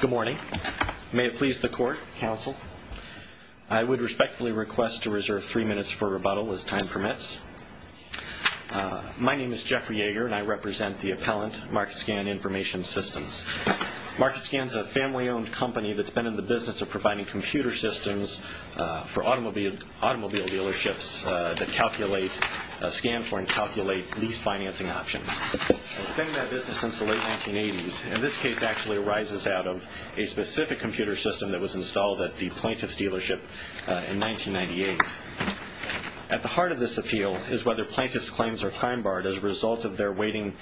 Good morning. May it please the court, counsel. I would respectfully request to reserve three minutes for rebuttal as time permits. My name is Jeffrey Yeager and I represent the appellant, Market Scan Information Systems. Market Scan is a family owned company that's been in the business of providing computer systems for automobile dealerships that calculate, scan since the late 1980s. And this case actually arises out of a specific computer system that was installed at the plaintiff's dealership in 1998. At the heart of this appeal is whether plaintiff's claims are time barred as a result of their waiting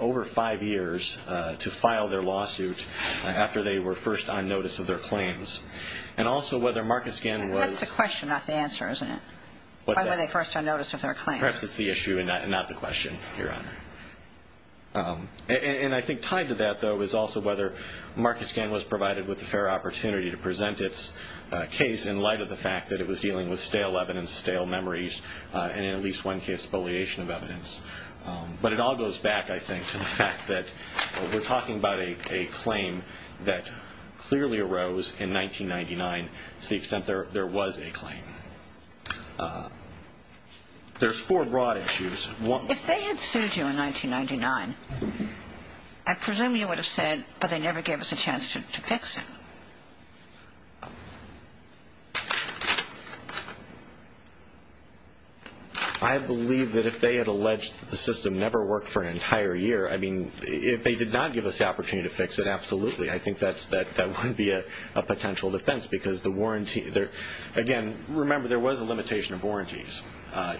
over five years to file their lawsuit after they were first on notice of their claims. And also whether Market Scan was- That's the question, not the answer, isn't it? What's that? Why were they first on notice of their claims? Perhaps it's the issue and not the question, Your Honor. And I think tied to that though is also whether Market Scan was provided with a fair opportunity to present its case in light of the fact that it was dealing with stale evidence, stale memories, and in at least one case, bulliation of evidence. But it all goes back, I think, to the fact that we're talking about a claim that clearly arose in 1999 to the extent there was a claim. There's four broad issues. One- If they had sued you in 1999, I presume you would have said, but they never gave us a chance to fix it. I believe that if they had alleged that the system never worked for an entire year, I mean, if they did not give us the opportunity to fix it, absolutely. I think that wouldn't be a potential defense. Again, remember, there was a limitation of warranties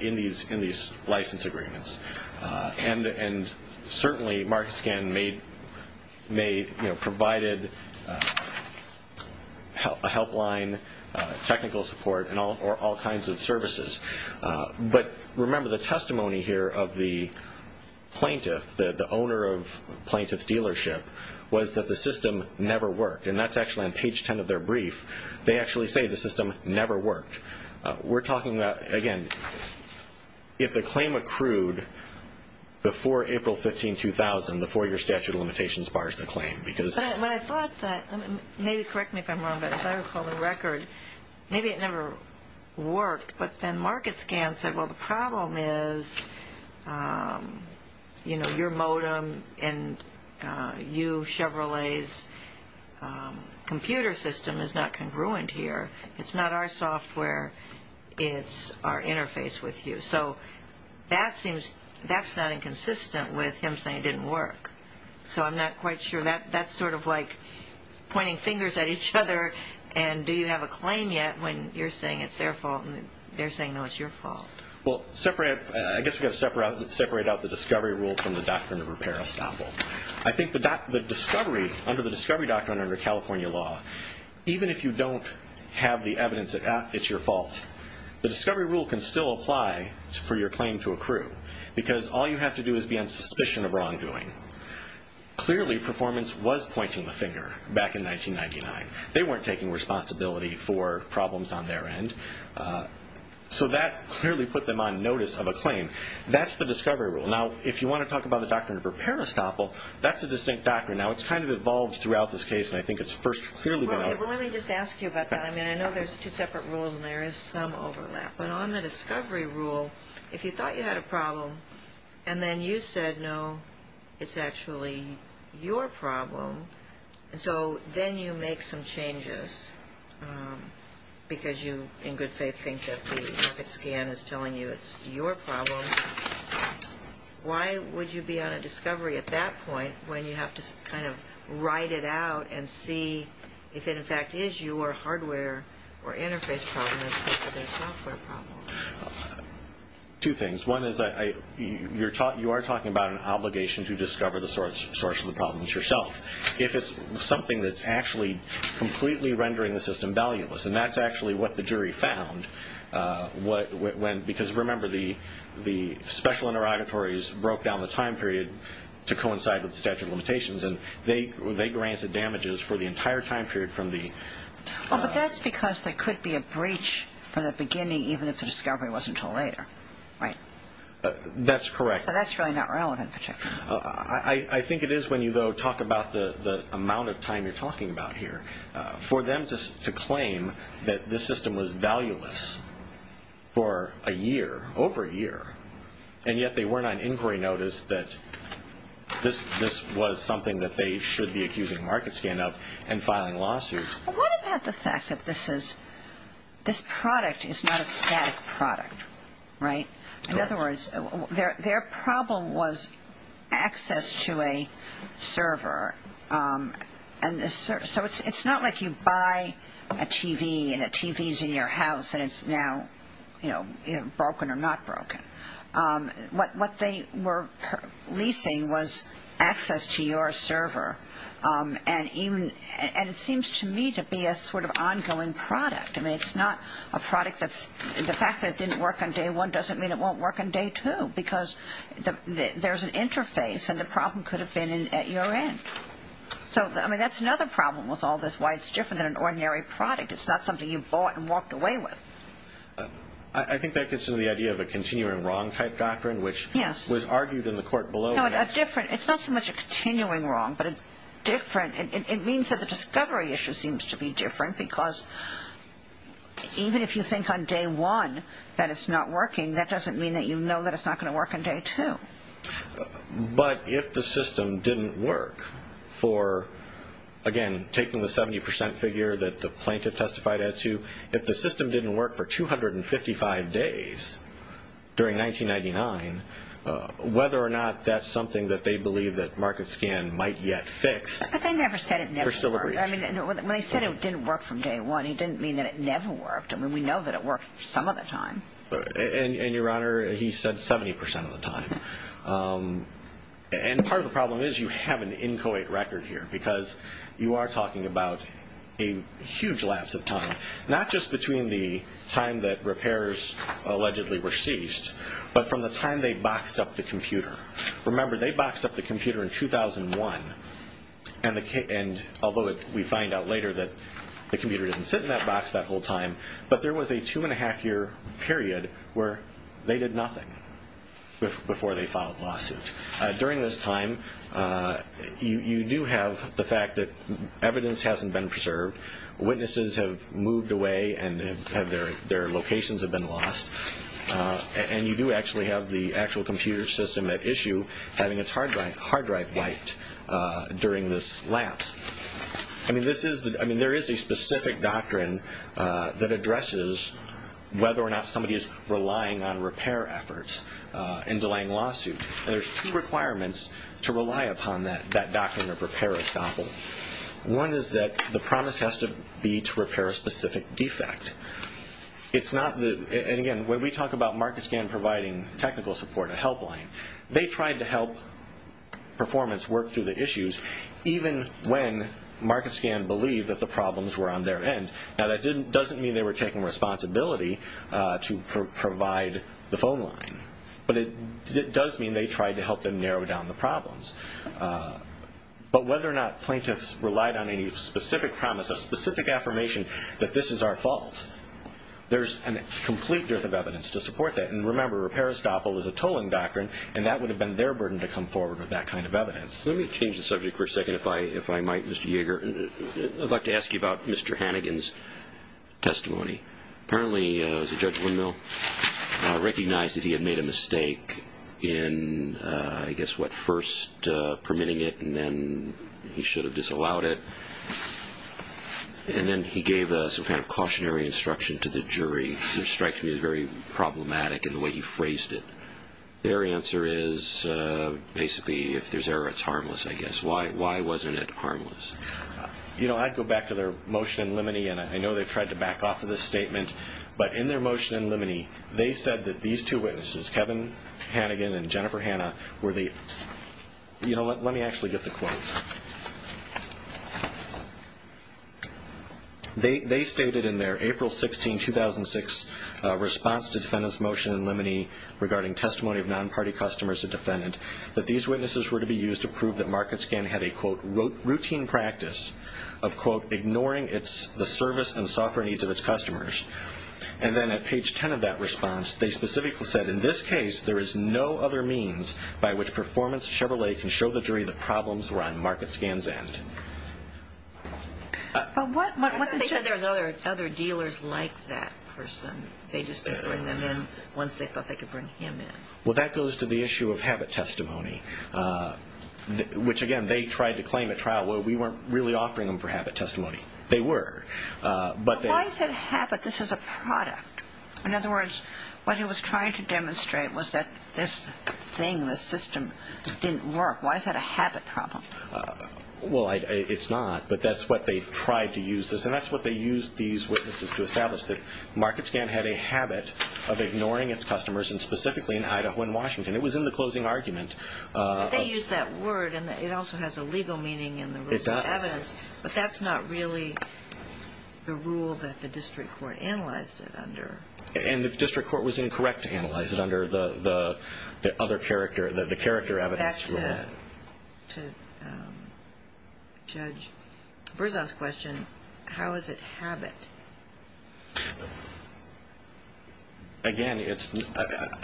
in these license agreements. And certainly, Market Scan provided a helpline, technical support, and all kinds of services. But remember, the testimony here of the plaintiff, the owner of the plaintiff's dealership, was that the system never worked. And that's actually on page 10 of their brief. They actually say the system never worked. We're talking about, again, if the claim accrued before April 15, 2000, the four-year statute of limitations bars the claim. But I thought that, maybe correct me if I'm wrong, but as I recall the record, maybe it never worked. But then Market Scan said, well, the problem is, you know, your modem and you Chevrolet's computer system is not congruent here. It's not our software. It's our interface with you. So that seems, that's not inconsistent with him saying it didn't work. So I'm not quite sure. That's sort of like pointing fingers at each other and do you have a claim yet when you're saying it's their fault and they're saying, no, it's your fault? Well, I guess we've got to separate out the discovery rule from the doctrine of repair estoppel. I think the discovery, under the discovery doctrine under California law, even if you don't have the evidence that it's your fault, the discovery rule can still apply for your claim to accrue because all you have to do is be on suspicion of wrongdoing. Clearly, performance was pointing the finger back in 1999. They weren't taking responsibility for problems on their end. So that clearly put them on notice of a claim. That's the discovery rule. Now, if you want to talk about the doctrine of repair estoppel, that's a distinct doctrine. Now, it's kind of evolved throughout this case and I think it's first clearly been out. Well, let me just ask you about that. I mean, I know there's two separate rules and there is some overlap. But on the discovery rule, if you thought you had a problem and then you said, no, it's actually your problem, and so then you make some changes because you in good faith think that the market scan is telling you it's your problem, why would you be on a discovery at that point when you have to kind of write it out and see if it in fact is your hardware or interface problem instead of their software problem? Two things. One is you are talking about an obligation to discover the source of the problem yourself. If it's something that's actually completely rendering the system valueless and that's actually what the jury found, because remember, the special interrogatories broke down the time period to coincide with the statute of limitations and they granted damages for the entire time period from the- Well, but that's because there could be a breach from the beginning even if the discovery wasn't until later, right? That's correct. So that's really not relevant in particular. I think it is when you, though, talk about the amount of time you're talking about here. For them to claim that this system was valueless for a year, over a year, and yet they weren't on inquiry notice that this was something that they should be accusing market scan of and filing a lawsuit- Well, what about the fact that this product is not a static product, right? In other words, their problem was access to a server. So it's not like you buy a TV and a TV's in your house and it's now broken or not broken. What they were leasing was access to your server and it seems to me to be a sort of ongoing product. The fact that it didn't work on day one doesn't mean it won't work on day two because there's an interface and the problem could have been at your end. So that's another problem with all this, why it's different than an ordinary product. It's not something you bought and walked away with. I think that gets to the idea of a continuing wrong type doctrine, which was argued in the court below. It's not so much a continuing wrong, but it means that the discovery issue seems to be different because even if you think on day one that it's not working, that doesn't mean that you know that it's not going to work on day two. But if the system didn't work for, again, taking the 70% figure that the plaintiff testified as to if the system didn't work for 255 days during 1999, whether or not that's something that they believe that MarketScan might yet fix, there's still a breach. But they never said it never worked. I mean, when they said it didn't work from day one, it didn't mean that it never worked. I mean, we know that it worked some of the time. And Your Honor, he said 70% of the time. And part of the problem is you have an inchoate record here because you are talking about a huge lapse of time, not just between the time that repairs allegedly were ceased, but from the time they boxed up the computer. Remember, they boxed up the computer in 2001. And although we find out later that the computer didn't sit in that box that whole time, but there was a two and a half year period where they did nothing before they filed a lawsuit. During this time, you do have the fact that evidence hasn't been preserved. Witnesses have moved away and their locations have been lost. And you do actually have the actual computer system at issue having its hard drive wiped during this lapse. I mean, there is a specific doctrine that addresses whether or not somebody is relying on repair efforts in delaying lawsuits. And there are two requirements to rely upon that doctrine of repair estoppel. One is that the promise has to be to repair a specific defect. It's not that, and again, when we talk about MarketScan providing technical support, a helpline, they tried to help performance work through the issues even when MarketScan believed that the problems were on their end. Now, that doesn't mean they were taking responsibility to provide the phone line. But it does mean they tried to help them narrow down the problems. But whether or not plaintiffs relied on any specific promise, a specific affirmation that this is our fault, there's a complete dearth of evidence to support that. And remember, repair estoppel is a tolling doctrine and that would have been their burden to come forward with that kind of evidence. Let me change the subject for a second if I might, Mr. Yeager. I'd like to ask you about Mr. Hannigan's testimony. Apparently, Judge Windmill recognized that he had made a mistake in I guess what, first permitting it and then he should have disallowed it. And then he gave some kind of cautionary instruction to the jury, which strikes me as very problematic in the way he phrased it. Their answer is basically, if there's error, it's harmless, I guess. Why wasn't it harmless? You know, I'd go back to their motion in limine and I know they've tried to back off of this statement. But in their motion in limine, they said that these two witnesses, Kevin Hannigan and Jennifer Hanna, were the, you know what, let me actually get the quote. They stated in their April 16, 2006 response to defendant's motion in limine regarding testimony of non-party customers to defendant, that these witnesses were to be used to prove that MarketScan had a, quote, routine practice of, quote, ignoring the service and software needs of its customers. And then at page 10 of that response, they specifically said, in this case, there is no other means by which performance Chevrolet can show the jury that problems were on MarketScan's end. But what if they said there were other dealers like that person? They just didn't bring them in once they thought they could bring him in. Well, that goes to the issue of habit testimony, which again, they tried to claim at trial where we weren't really offering them for habit testimony. They were. But why is it habit? This is a product. In other words, what he was trying to demonstrate was that this thing, this system, didn't work. Why is that a habit problem? Well, it's not. But that's what they tried to use this. And that's what they used these witnesses to establish, that MarketScan had a habit of ignoring its customers and specifically in Idaho and Washington. It was in the closing argument. But they used that word, and it also has a legal meaning in the Rules of Evidence. It does. But that's not really the rule that the district court analyzed it under. And the district court was incorrect to analyze it under the other character, the character evidence rule. Back to Judge Berzon's question, how is it habit? Again, it's,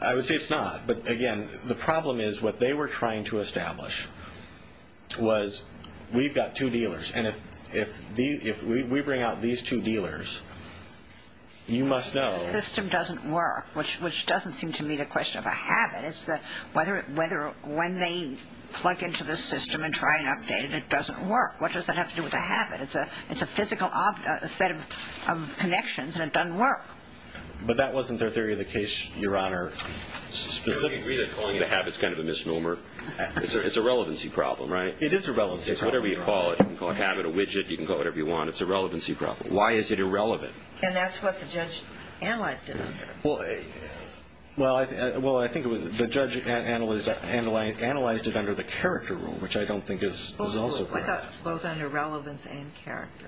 I would say it's not. But again, the problem is what they were trying to establish was we've got two dealers. And if we bring out these two dealers, you must know... The system doesn't work, which doesn't seem to me the question of a habit. It's the, whether when they plug into the system and try and update it, it doesn't work. What does that have to do with a habit? It's a physical set of connections, and it doesn't work. But that wasn't their theory of the case, Your Honor. Do you agree that calling it a habit is kind of a misnomer? It's a relevancy problem, right? It is a relevancy problem. Whatever you call it, you can call a habit a widget. You can call it whatever you want. It's a relevancy problem. Why is it irrelevant? And that's what the judge analyzed it under. Well, I think it was, the judge analyzed it under the character rule, which I don't think is also correct. Well, I thought it was both under relevance and character.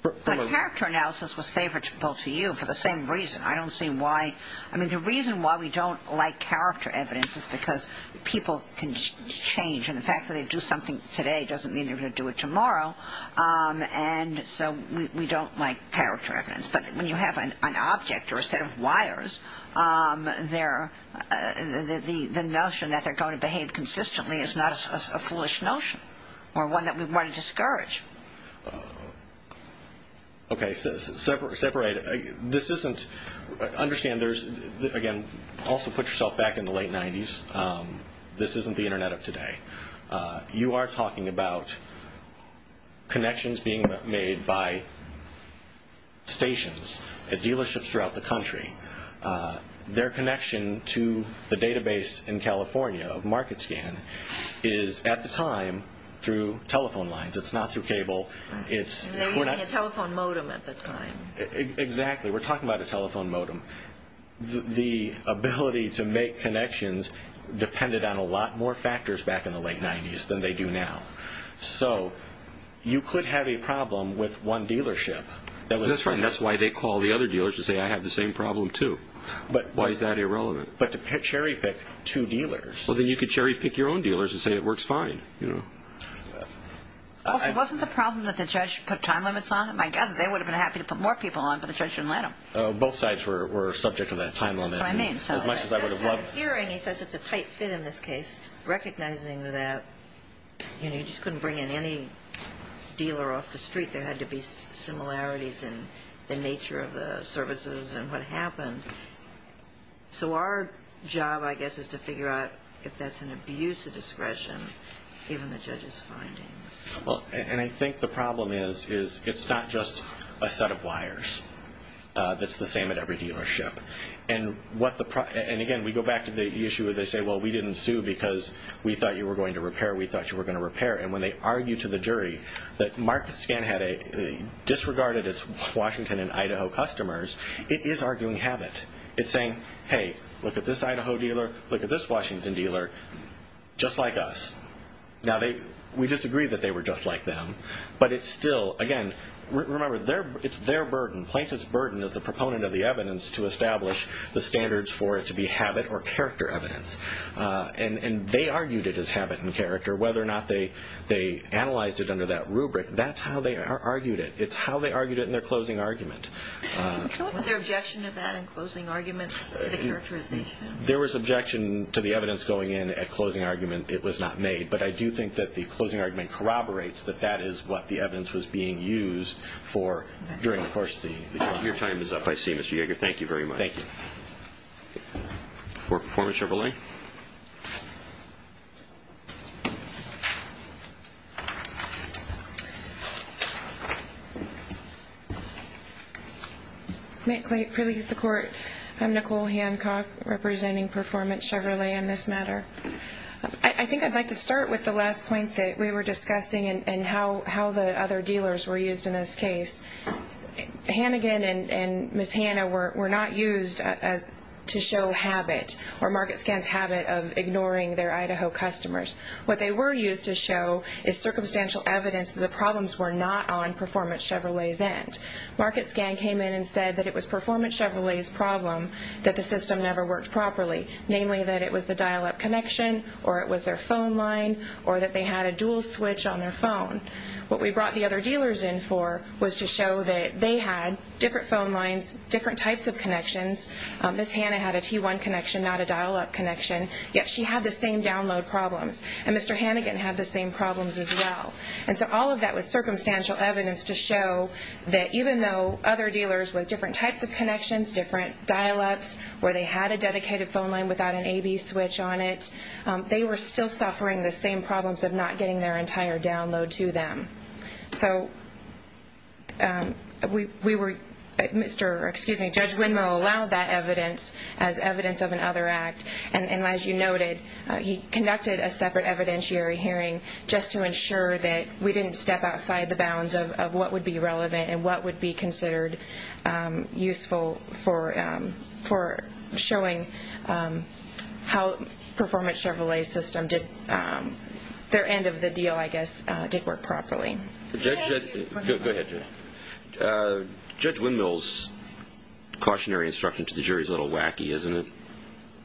The character analysis was favorable to you for the same reason. I don't see why, I mean, the reason why we don't like character evidence is because people can change. And the fact that they do something today doesn't mean they're going to do it tomorrow. And so we don't like character evidence. But when you have an object or a set of wires, the notion that they're going to behave consistently is not a foolish notion or one that we want to discourage. Okay. Separate. This isn't, understand there's, again, also put yourself back in the late 90s. This isn't the Internet of today. You are talking about connections being made by telephone lines. It's not through cable. And they were using a telephone modem at the time. Exactly. We're talking about a telephone modem. The ability to make connections depended on a lot more factors back in the late 90s than they do now. So you could have a problem with one dealership. That's right. And that's why they call the other dealers to say, I have the same problem too. Why is that irrelevant? But to cherry pick two dealers. Well, then you could cherry pick your own dealers and say it works fine. Also, wasn't the problem that the judge put time limits on? My guess is they would have been happy to put more people on, but the judge didn't let them. Both sides were subject to that time limit. That's what I mean. As much as I would have loved. Hearing, he says it's a tight fit in this case, recognizing that you just couldn't bring in any dealer off the street. There had to be similarities in the nature of the services and what happened. So our job, I guess, is to figure out if that's an abuse of discretion, given the judge's findings. And I think the problem is it's not just a set of wires that's the same at every dealership. And again, we go back to the issue where they say, well, we didn't sue because we thought you were going to repair. We thought you were going to repair. And when they argue to the It is arguing habit. It's saying, hey, look at this Idaho dealer, look at this Washington dealer, just like us. Now, we disagree that they were just like them, but it's still, again, remember, it's their burden. Plaintiff's burden is the proponent of the evidence to establish the standards for it to be habit or character evidence. And they argued it as habit and character, whether or not they analyzed it under that rubric. That's how they argued it. It's how they argued it in their closing argument. Was there objection to that in closing argument? There was objection to the evidence going in at closing argument. It was not made. But I do think that the closing argument corroborates that that is what the evidence was being used for during the course of the hearing. Your time is up, I see, Mr. Yeager. Thank you very much. Thank you. For Performance Chevrolet. May it please the Court, I'm Nicole Hancock, representing Performance Chevrolet on this matter. I think I'd like to start with the last point that we were discussing and how the other dealers were used in this case. Hannigan and Ms. Hanna were not used to show habit or MarketScan's habit of ignoring their Idaho customers. What they were used to show is circumstantial evidence that the problems were not on Performance Chevrolet's end. MarketScan came in and said that it was Performance Chevrolet's problem that the system never worked properly, namely that it was the dial-up connection or it was their phone line or that they had a dual switch on their phone. What we brought the other dealers in for was to show that they had different phone lines, different types of connections. Ms. Hanna had a T1 connection, not a dial-up connection, yet she had the same download problems. And Mr. Hannigan had the same problems as well. And so all of that was circumstantial evidence to show that even though other dealers with different types of connections, different dial-ups, where they had a dedicated phone line without an A-B switch on it, they were still suffering the same problems of not getting their entire download to them. So we were, Mr., excuse me, Judge Winmo allowed that evidence as evidence of another act. And as you noted, he conducted a separate evidentiary hearing just to ensure that we didn't step outside the bounds of what would be relevant and what would be considered useful for showing how Performance Chevrolet's system did, their end of the deal, I guess, did work properly. Judge Winmo's cautionary instruction to the jury is a little wacky, isn't it?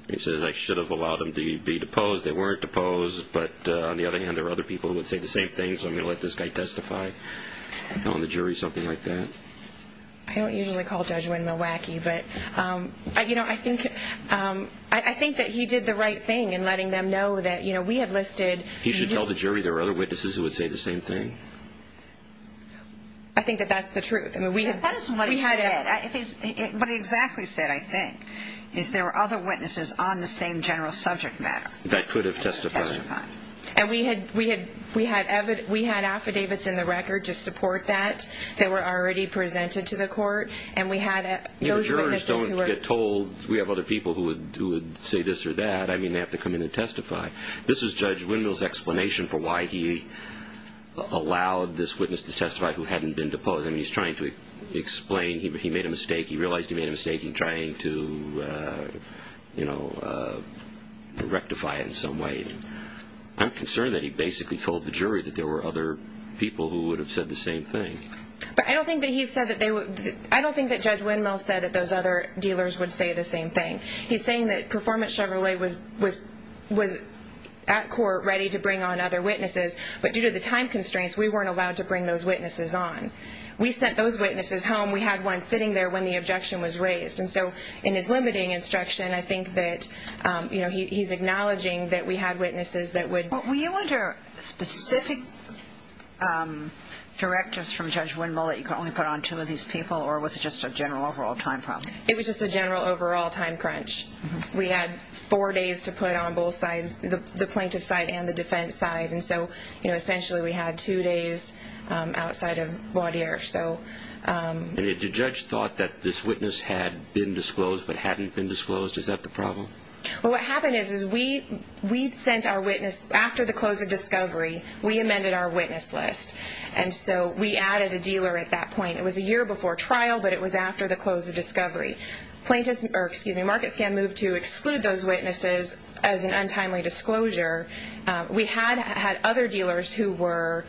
He says, I should have allowed them to be deposed. They weren't deposed. But on the other hand, there were other people who would say the same thing, so I'm going to let this guy testify. Telling the jury something like that. I don't usually call Judge Winmo wacky, but I think that he did the right thing in letting them know that we have listed. He should tell the jury there are other witnesses who would say the same thing? I think that that's the truth. That is what he said. What he exactly said, I think, is there were other witnesses on the same general subject matter. That could have testified. And we had affidavits in the record to support that that were already presented to the court, and we had those witnesses who were. You know, jurors don't get told, we have other people who would say this or that. I mean, they have to come in and testify. This is Judge Winmo's explanation for why he allowed this witness to testify who hadn't been deposed. I mean, he's trying to explain, he made a mistake, he realized he made a mistake in trying to, you know, rectify it in some way. I'm concerned that he basically told the jury that there were other people who would have said the same thing. But I don't think that he said that they would, I don't think that Judge Winmo said that those other dealers would say the same thing. He's saying that Performance Chevrolet was at court ready to bring on other witnesses, but due to the time constraints, we weren't allowed to bring those witnesses on. We sent those witnesses home. We had one sitting there when the objection was raised. And so in his limiting instruction, I think that, you know, he's acknowledging that we had witnesses that would. Were you under specific directives from Judge Winmo that you could only put on two of these people, or was it just a general overall time problem? It was just a general overall time crunch. We had four days to put on both sides, the plaintiff side and the defense side. And so, you know, essentially we had two days outside of voir dire, so. And if the judge thought that this witness had been disclosed but hadn't been disclosed, is that the problem? Well, what happened is, is we'd sent our witness after the close of discovery, we amended our witness list. And so we added a dealer at that point. It was a year before trial, but it was after the close of discovery. MarketScan moved to exclude those witnesses as an untimely disclosure. We had had other dealers who were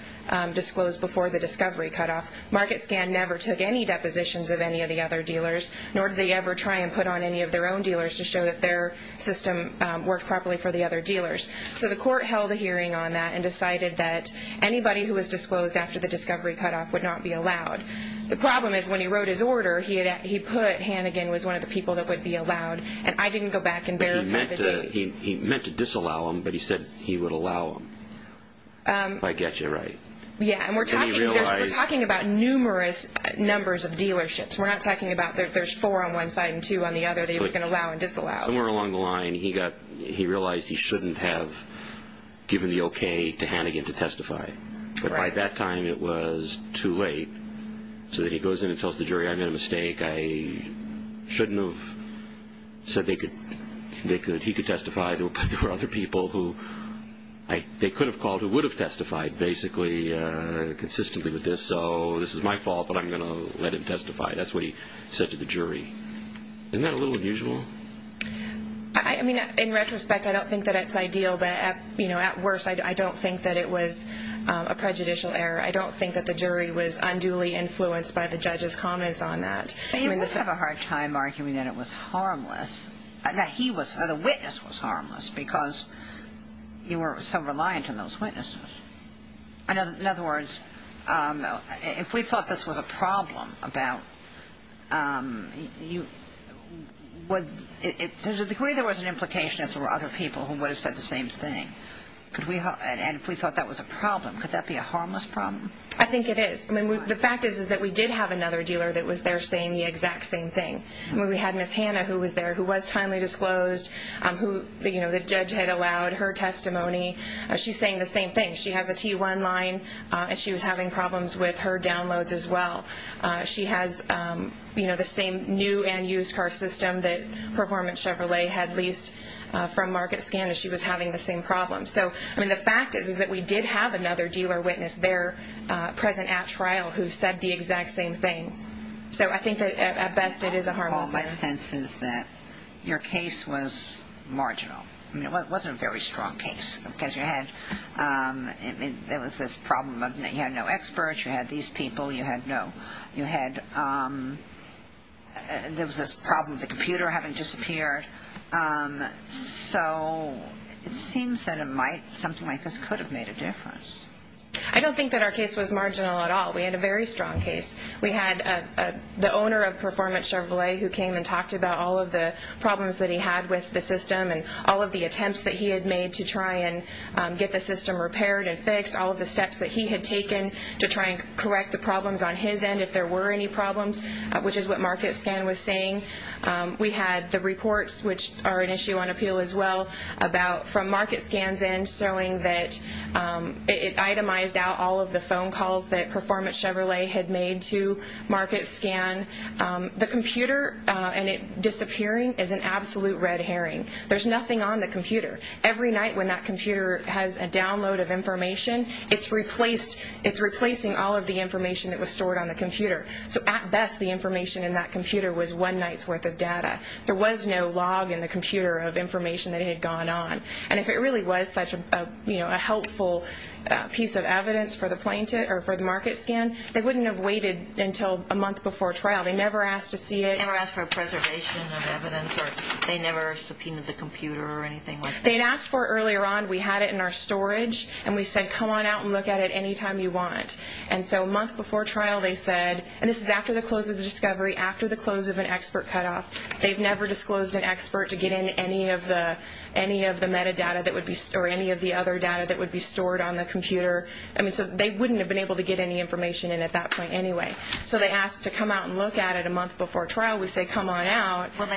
disclosed before the discovery cutoff. MarketScan never took any depositions of any of the other dealers, nor did they ever try and put on any of their own dealers to show that their system worked properly for the other dealers. So the court held a hearing on that and decided that anybody who was disclosed after the discovery cutoff would not be allowed. The problem is when he wrote his order, he put Hannigan was one of the people that would be allowed, and I didn't go back and verify the date. But he meant to disallow him, but he said he would allow him. If I get you right. Yeah, and we're talking about numerous numbers of dealerships. We're not talking about there's four on one side and two on the other that he was going to allow and disallow. Somewhere along the line, he realized he shouldn't have given the okay to Hannigan to testify. But by that time, it was too late. So then he goes in and tells the jury, I made a mistake. I shouldn't have said that he could testify. There were other people who they could have called who would have testified basically consistently with this. So this is my fault, but I'm going to let him testify. That's what he said to the jury. Isn't that a little unusual? I mean, in retrospect, I don't think that it's ideal. But at worst, I don't think that it was a prejudicial error. I don't think that the jury was unduly influenced by the judge's comments on that. But he would have a hard time arguing that it was harmless, that he was, the witness was harmless because you were so reliant on those witnesses. In other words, if we thought this was a problem about you, to the degree there was an implication if there were other people who would have said the same thing, and if we thought that was a problem, could that be a harmless problem? I think it is. The fact is that we did have another dealer that was there saying the exact same thing. We had Ms. Hannah who was there who was timely disclosed. The judge had allowed her testimony. She's saying the same thing. She has a T1 line, and she was having problems with her downloads as well. She has the same new and used car system that Performance Chevrolet had released from market scan, and she was having the same problem. So, I mean, the fact is that we did have another dealer witness there present at trial who said the exact same thing. So I think that, at best, it is a harmless thing. All my sense is that your case was marginal. I mean, it wasn't a very strong case because you had, there was this problem of you had no experts, you had these people, you had no, you had, there was this problem with the computer having disappeared. So it seems that it might, something like this could have made a difference. I don't think that our case was marginal at all. We had a very strong case. We had the owner of Performance Chevrolet who came and talked about all of the problems that he had with the system and all of the attempts that he had made to try and get the system repaired and fixed, all of the steps that he had taken to try and correct the problems on his end if there were any problems, which is what market scan was saying. We had the reports, which are an issue on appeal as well, about from market scans in showing that it itemized out all of the phone calls that Performance Chevrolet had made to market scan. The computer and it disappearing is an absolute red herring. There's nothing on the computer. Every night when that computer has a download of information, it's replacing all of the information that was stored on the computer. So at best, the information in that computer was one night's worth of data. There was no log in the computer of information that had gone on. And if it really was such a helpful piece of evidence for the market scan, they wouldn't have waited until a month before trial. They never asked to see it. They never asked for a preservation of evidence, or they never subpoenaed the computer or anything like that? They had asked for it earlier on. We had it in our storage, and we said, come on out and look at it any time you want. And so a month before trial, they said, and this is after the close of the discovery, after the close of an expert cutoff, they've never disclosed an expert to get in any of the metadata or any of the other data that would be stored on the computer. I mean, so they wouldn't have been able to get any information in at that point anyway. So they asked to come out and look at it a month before trial. We say, come on out. Well,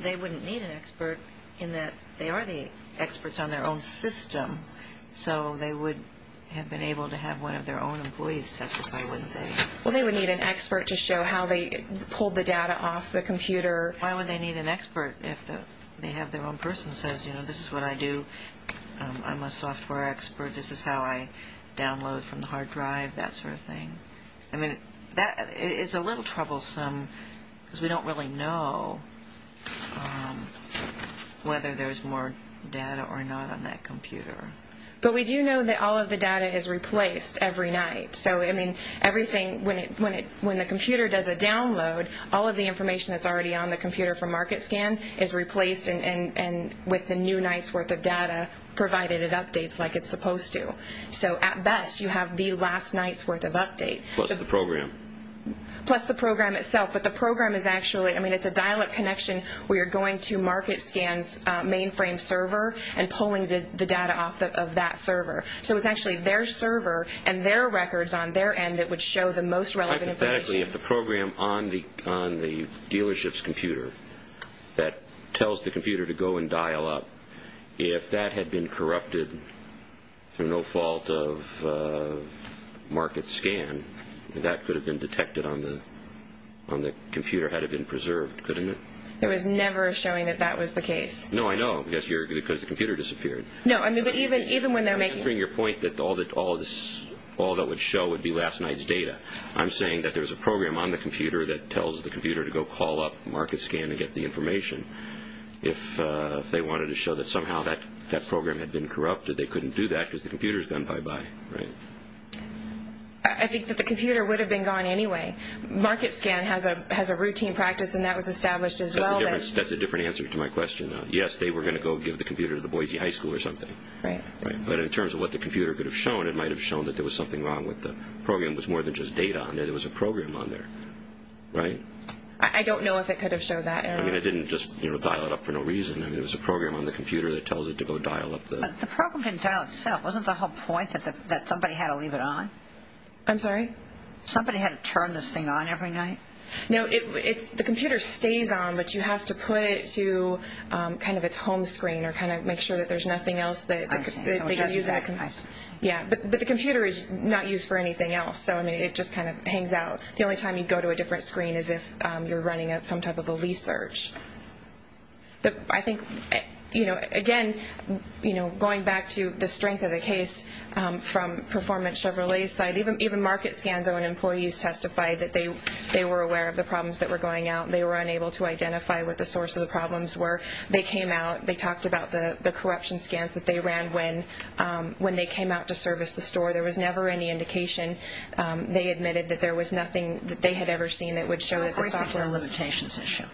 they wouldn't need an expert in that they are the experts on their own system. So they would have been able to have one of their own employees testify, wouldn't they? Well, they would need an expert to show how they pulled the data off the computer. Why would they need an expert if they have their own person who says, you know, this is what I do. I'm a software expert. This is how I download from the hard drive, that sort of thing. I mean, it's a little troublesome because we don't really know whether there's more data or not on that computer. But we do know that all of the data is replaced every night. So, I mean, everything, when the computer does a download, all of the information that's already on the computer for market scan is replaced and with the new night's worth of data provided it updates like it's supposed to. So at best you have the last night's worth of update. Plus the program. Plus the program itself. But the program is actually, I mean, it's a dial-up connection where you're going to market scan's mainframe server and pulling the data off of that server. So it's actually their server and their records on their end that would show the most relevant information. Hypothetically, if the program on the dealership's computer that tells the computer to go and dial up, if that had been corrupted through no fault of market scan, that could have been detected on the computer, had it been preserved, couldn't it? It was never showing that that was the case. No, I know, because the computer disappeared. No, I mean, even when they're making... I'm answering your point that all that would show would be last night's data. I'm saying that there's a program on the computer that tells the computer to go call up market scan and get the information. If they wanted to show that somehow that program had been corrupted, they couldn't do that because the computer's gone bye-bye, right? I think that the computer would have been gone anyway. Market scan has a routine practice, and that was established as well. That's a different answer to my question, though. Yes, they were going to go give the computer to the Boise High School or something. Right. But in terms of what the computer could have shown, it might have shown that there was something wrong with the program. It was more than just data on there. There was a program on there, right? I don't know if it could have showed that. I mean, it didn't just dial it up for no reason. I mean, there was a program on the computer that tells it to go dial up the... But the program didn't dial itself. Wasn't the whole point that somebody had to leave it on? I'm sorry? Somebody had to turn this thing on every night? No, the computer stays on, but you have to put it to kind of its home screen or kind of make sure that there's nothing else that they can use that. But the computer is not used for anything else, so it just kind of hangs out. The only time you'd go to a different screen is if you're running some type of a lease search. I think, again, going back to the strength of the case from performance Chevrolet's side, even market scans on employees testified that they were aware of the problems that were going out. They were unable to identify what the source of the problems were. They came out. They talked about the corruption scans that they ran when they came out to service the store. There was never any indication. They admitted that there was nothing that they had ever seen that would show that the software... Wait to hear the limitations issue.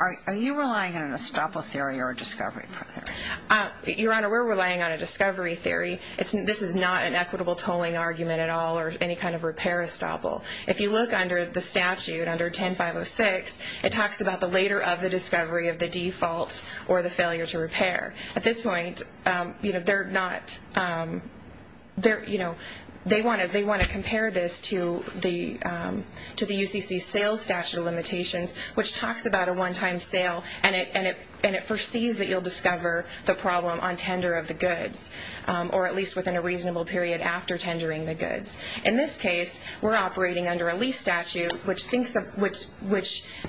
Are you relying on an estoppel theory or a discovery theory? Your Honor, we're relying on a discovery theory. This is not an equitable tolling argument at all or any kind of repair estoppel. If you look under the statute, under 10-506, it talks about the later of the discovery of the default or the failure to repair. At this point, they want to compare this to the UCC sales statute of limitations, which talks about a one-time sale, and it foresees that you'll discover the problem on tender of the goods or at least within a reasonable period after tendering the goods. In this case, we're operating under a lease statute, which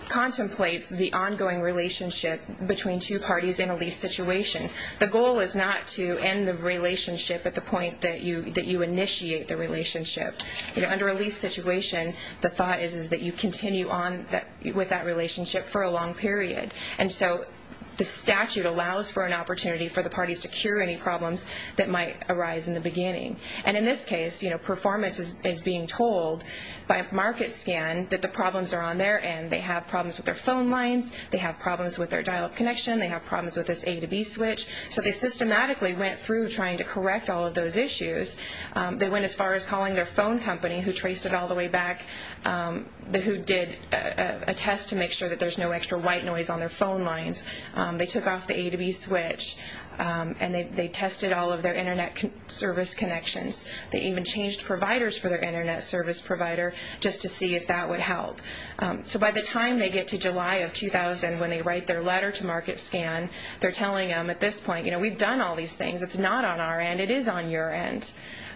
contemplates the ongoing relationship between two parties in a lease situation. The goal is not to end the relationship at the point that you initiate the relationship. Under a lease situation, the thought is that you continue on with that relationship for a long period. And so the statute allows for an opportunity for the parties to cure any problems that might arise in the beginning. And in this case, performance is being told by a market scan that the problems are on their end. They have problems with their phone lines. They have problems with their dial-up connection. They have problems with this A to B switch. So they systematically went through trying to correct all of those issues. They went as far as calling their phone company, who traced it all the way back, who did a test to make sure that there's no extra white noise on their phone lines. They took off the A to B switch, and they tested all of their Internet service connections. They even changed providers for their Internet service provider just to see if that would help. So by the time they get to July of 2000, when they write their letter to market scan, they're telling them at this point, you know, we've done all these things. It's not on our end. It is on your end.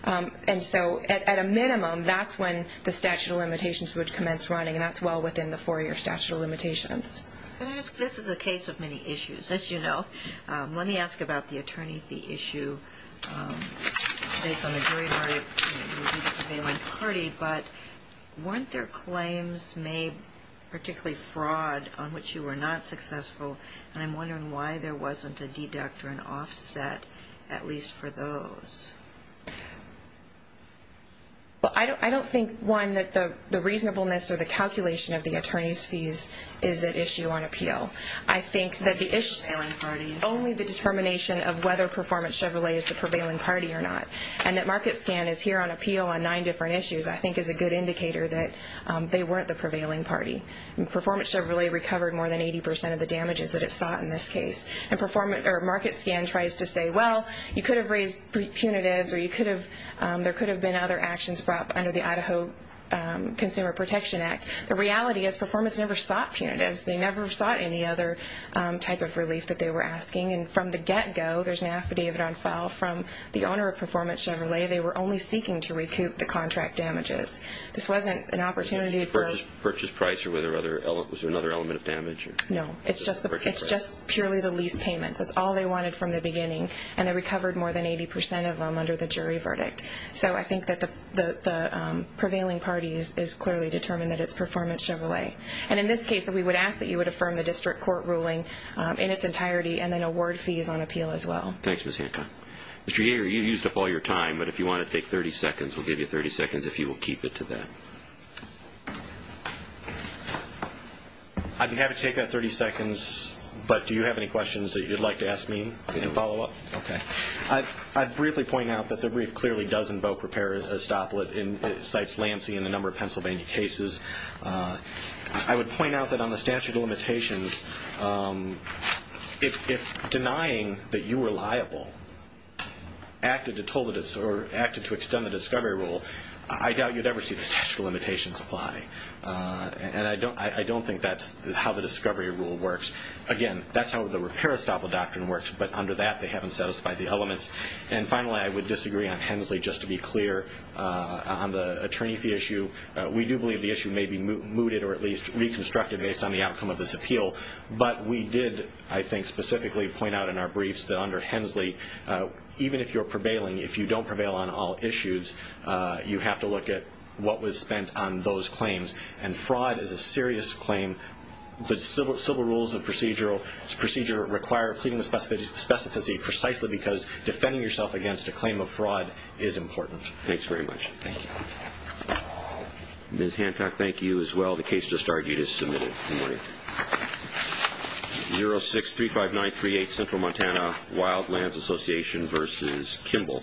And so at a minimum, that's when the statute of limitations would commence running, and that's well within the four-year statute of limitations. Can I ask, this is a case of many issues. As you know, let me ask about the attorney fee issue. Based on the jury verdict, it would be the prevailing party, but weren't there claims made, particularly fraud, on which you were not successful? And I'm wondering why there wasn't a deduct or an offset, at least for those. Well, I don't think, one, that the reasonableness or the calculation of the attorney's fees is at issue on appeal. I think that only the determination of whether Performance Chevrolet is the prevailing party or not and that market scan is here on appeal on nine different issues, I think is a good indicator that they weren't the prevailing party. And Performance Chevrolet recovered more than 80% of the damages that it sought in this case. And market scan tries to say, well, you could have raised punitives or there could have been other actions brought under the Idaho Consumer Protection Act. The reality is Performance never sought punitives. They never sought any other type of relief that they were asking. And from the get-go, there's an affidavit on file from the owner of Performance Chevrolet. They were only seeking to recoup the contract damages. This wasn't an opportunity for – Was it a purchase price or was there another element of damage? No, it's just purely the lease payments. It's all they wanted from the beginning, and they recovered more than 80% of them under the jury verdict. So I think that the prevailing party is clearly determined that it's Performance Chevrolet. And in this case, we would ask that you would affirm the district court ruling in its entirety, and then award fees on appeal as well. Thanks, Ms. Hancock. Mr. Yeager, you used up all your time, but if you want to take 30 seconds, we'll give you 30 seconds if you will keep it to that. I'd be happy to take that 30 seconds, but do you have any questions that you'd like to ask me in follow-up? Okay. I'd briefly point out that the brief clearly does invoke repair estopel. It cites Lansing in a number of Pennsylvania cases. I would point out that on the statute of limitations, if denying that you were liable acted to extend the discovery rule, I doubt you'd ever see the statute of limitations apply. And I don't think that's how the discovery rule works. Again, that's how the repair estopel doctrine works, but under that they haven't satisfied the elements. And finally, I would disagree on Hensley. Just to be clear, on the attorney fee issue, we do believe the issue may be mooted or at least reconstructed based on the outcome of this appeal. But we did, I think, specifically point out in our briefs that under Hensley, even if you're prevailing, if you don't prevail on all issues, you have to look at what was spent on those claims. And fraud is a serious claim. The civil rules of procedure require pleading the specificity precisely because defending yourself against a claim of fraud is important. Thanks very much. Thank you. Ms. Hantock, thank you as well. The case just argued is submitted. Good morning. Good morning. 0635938 Central Montana Wildlands Association v. Kimball.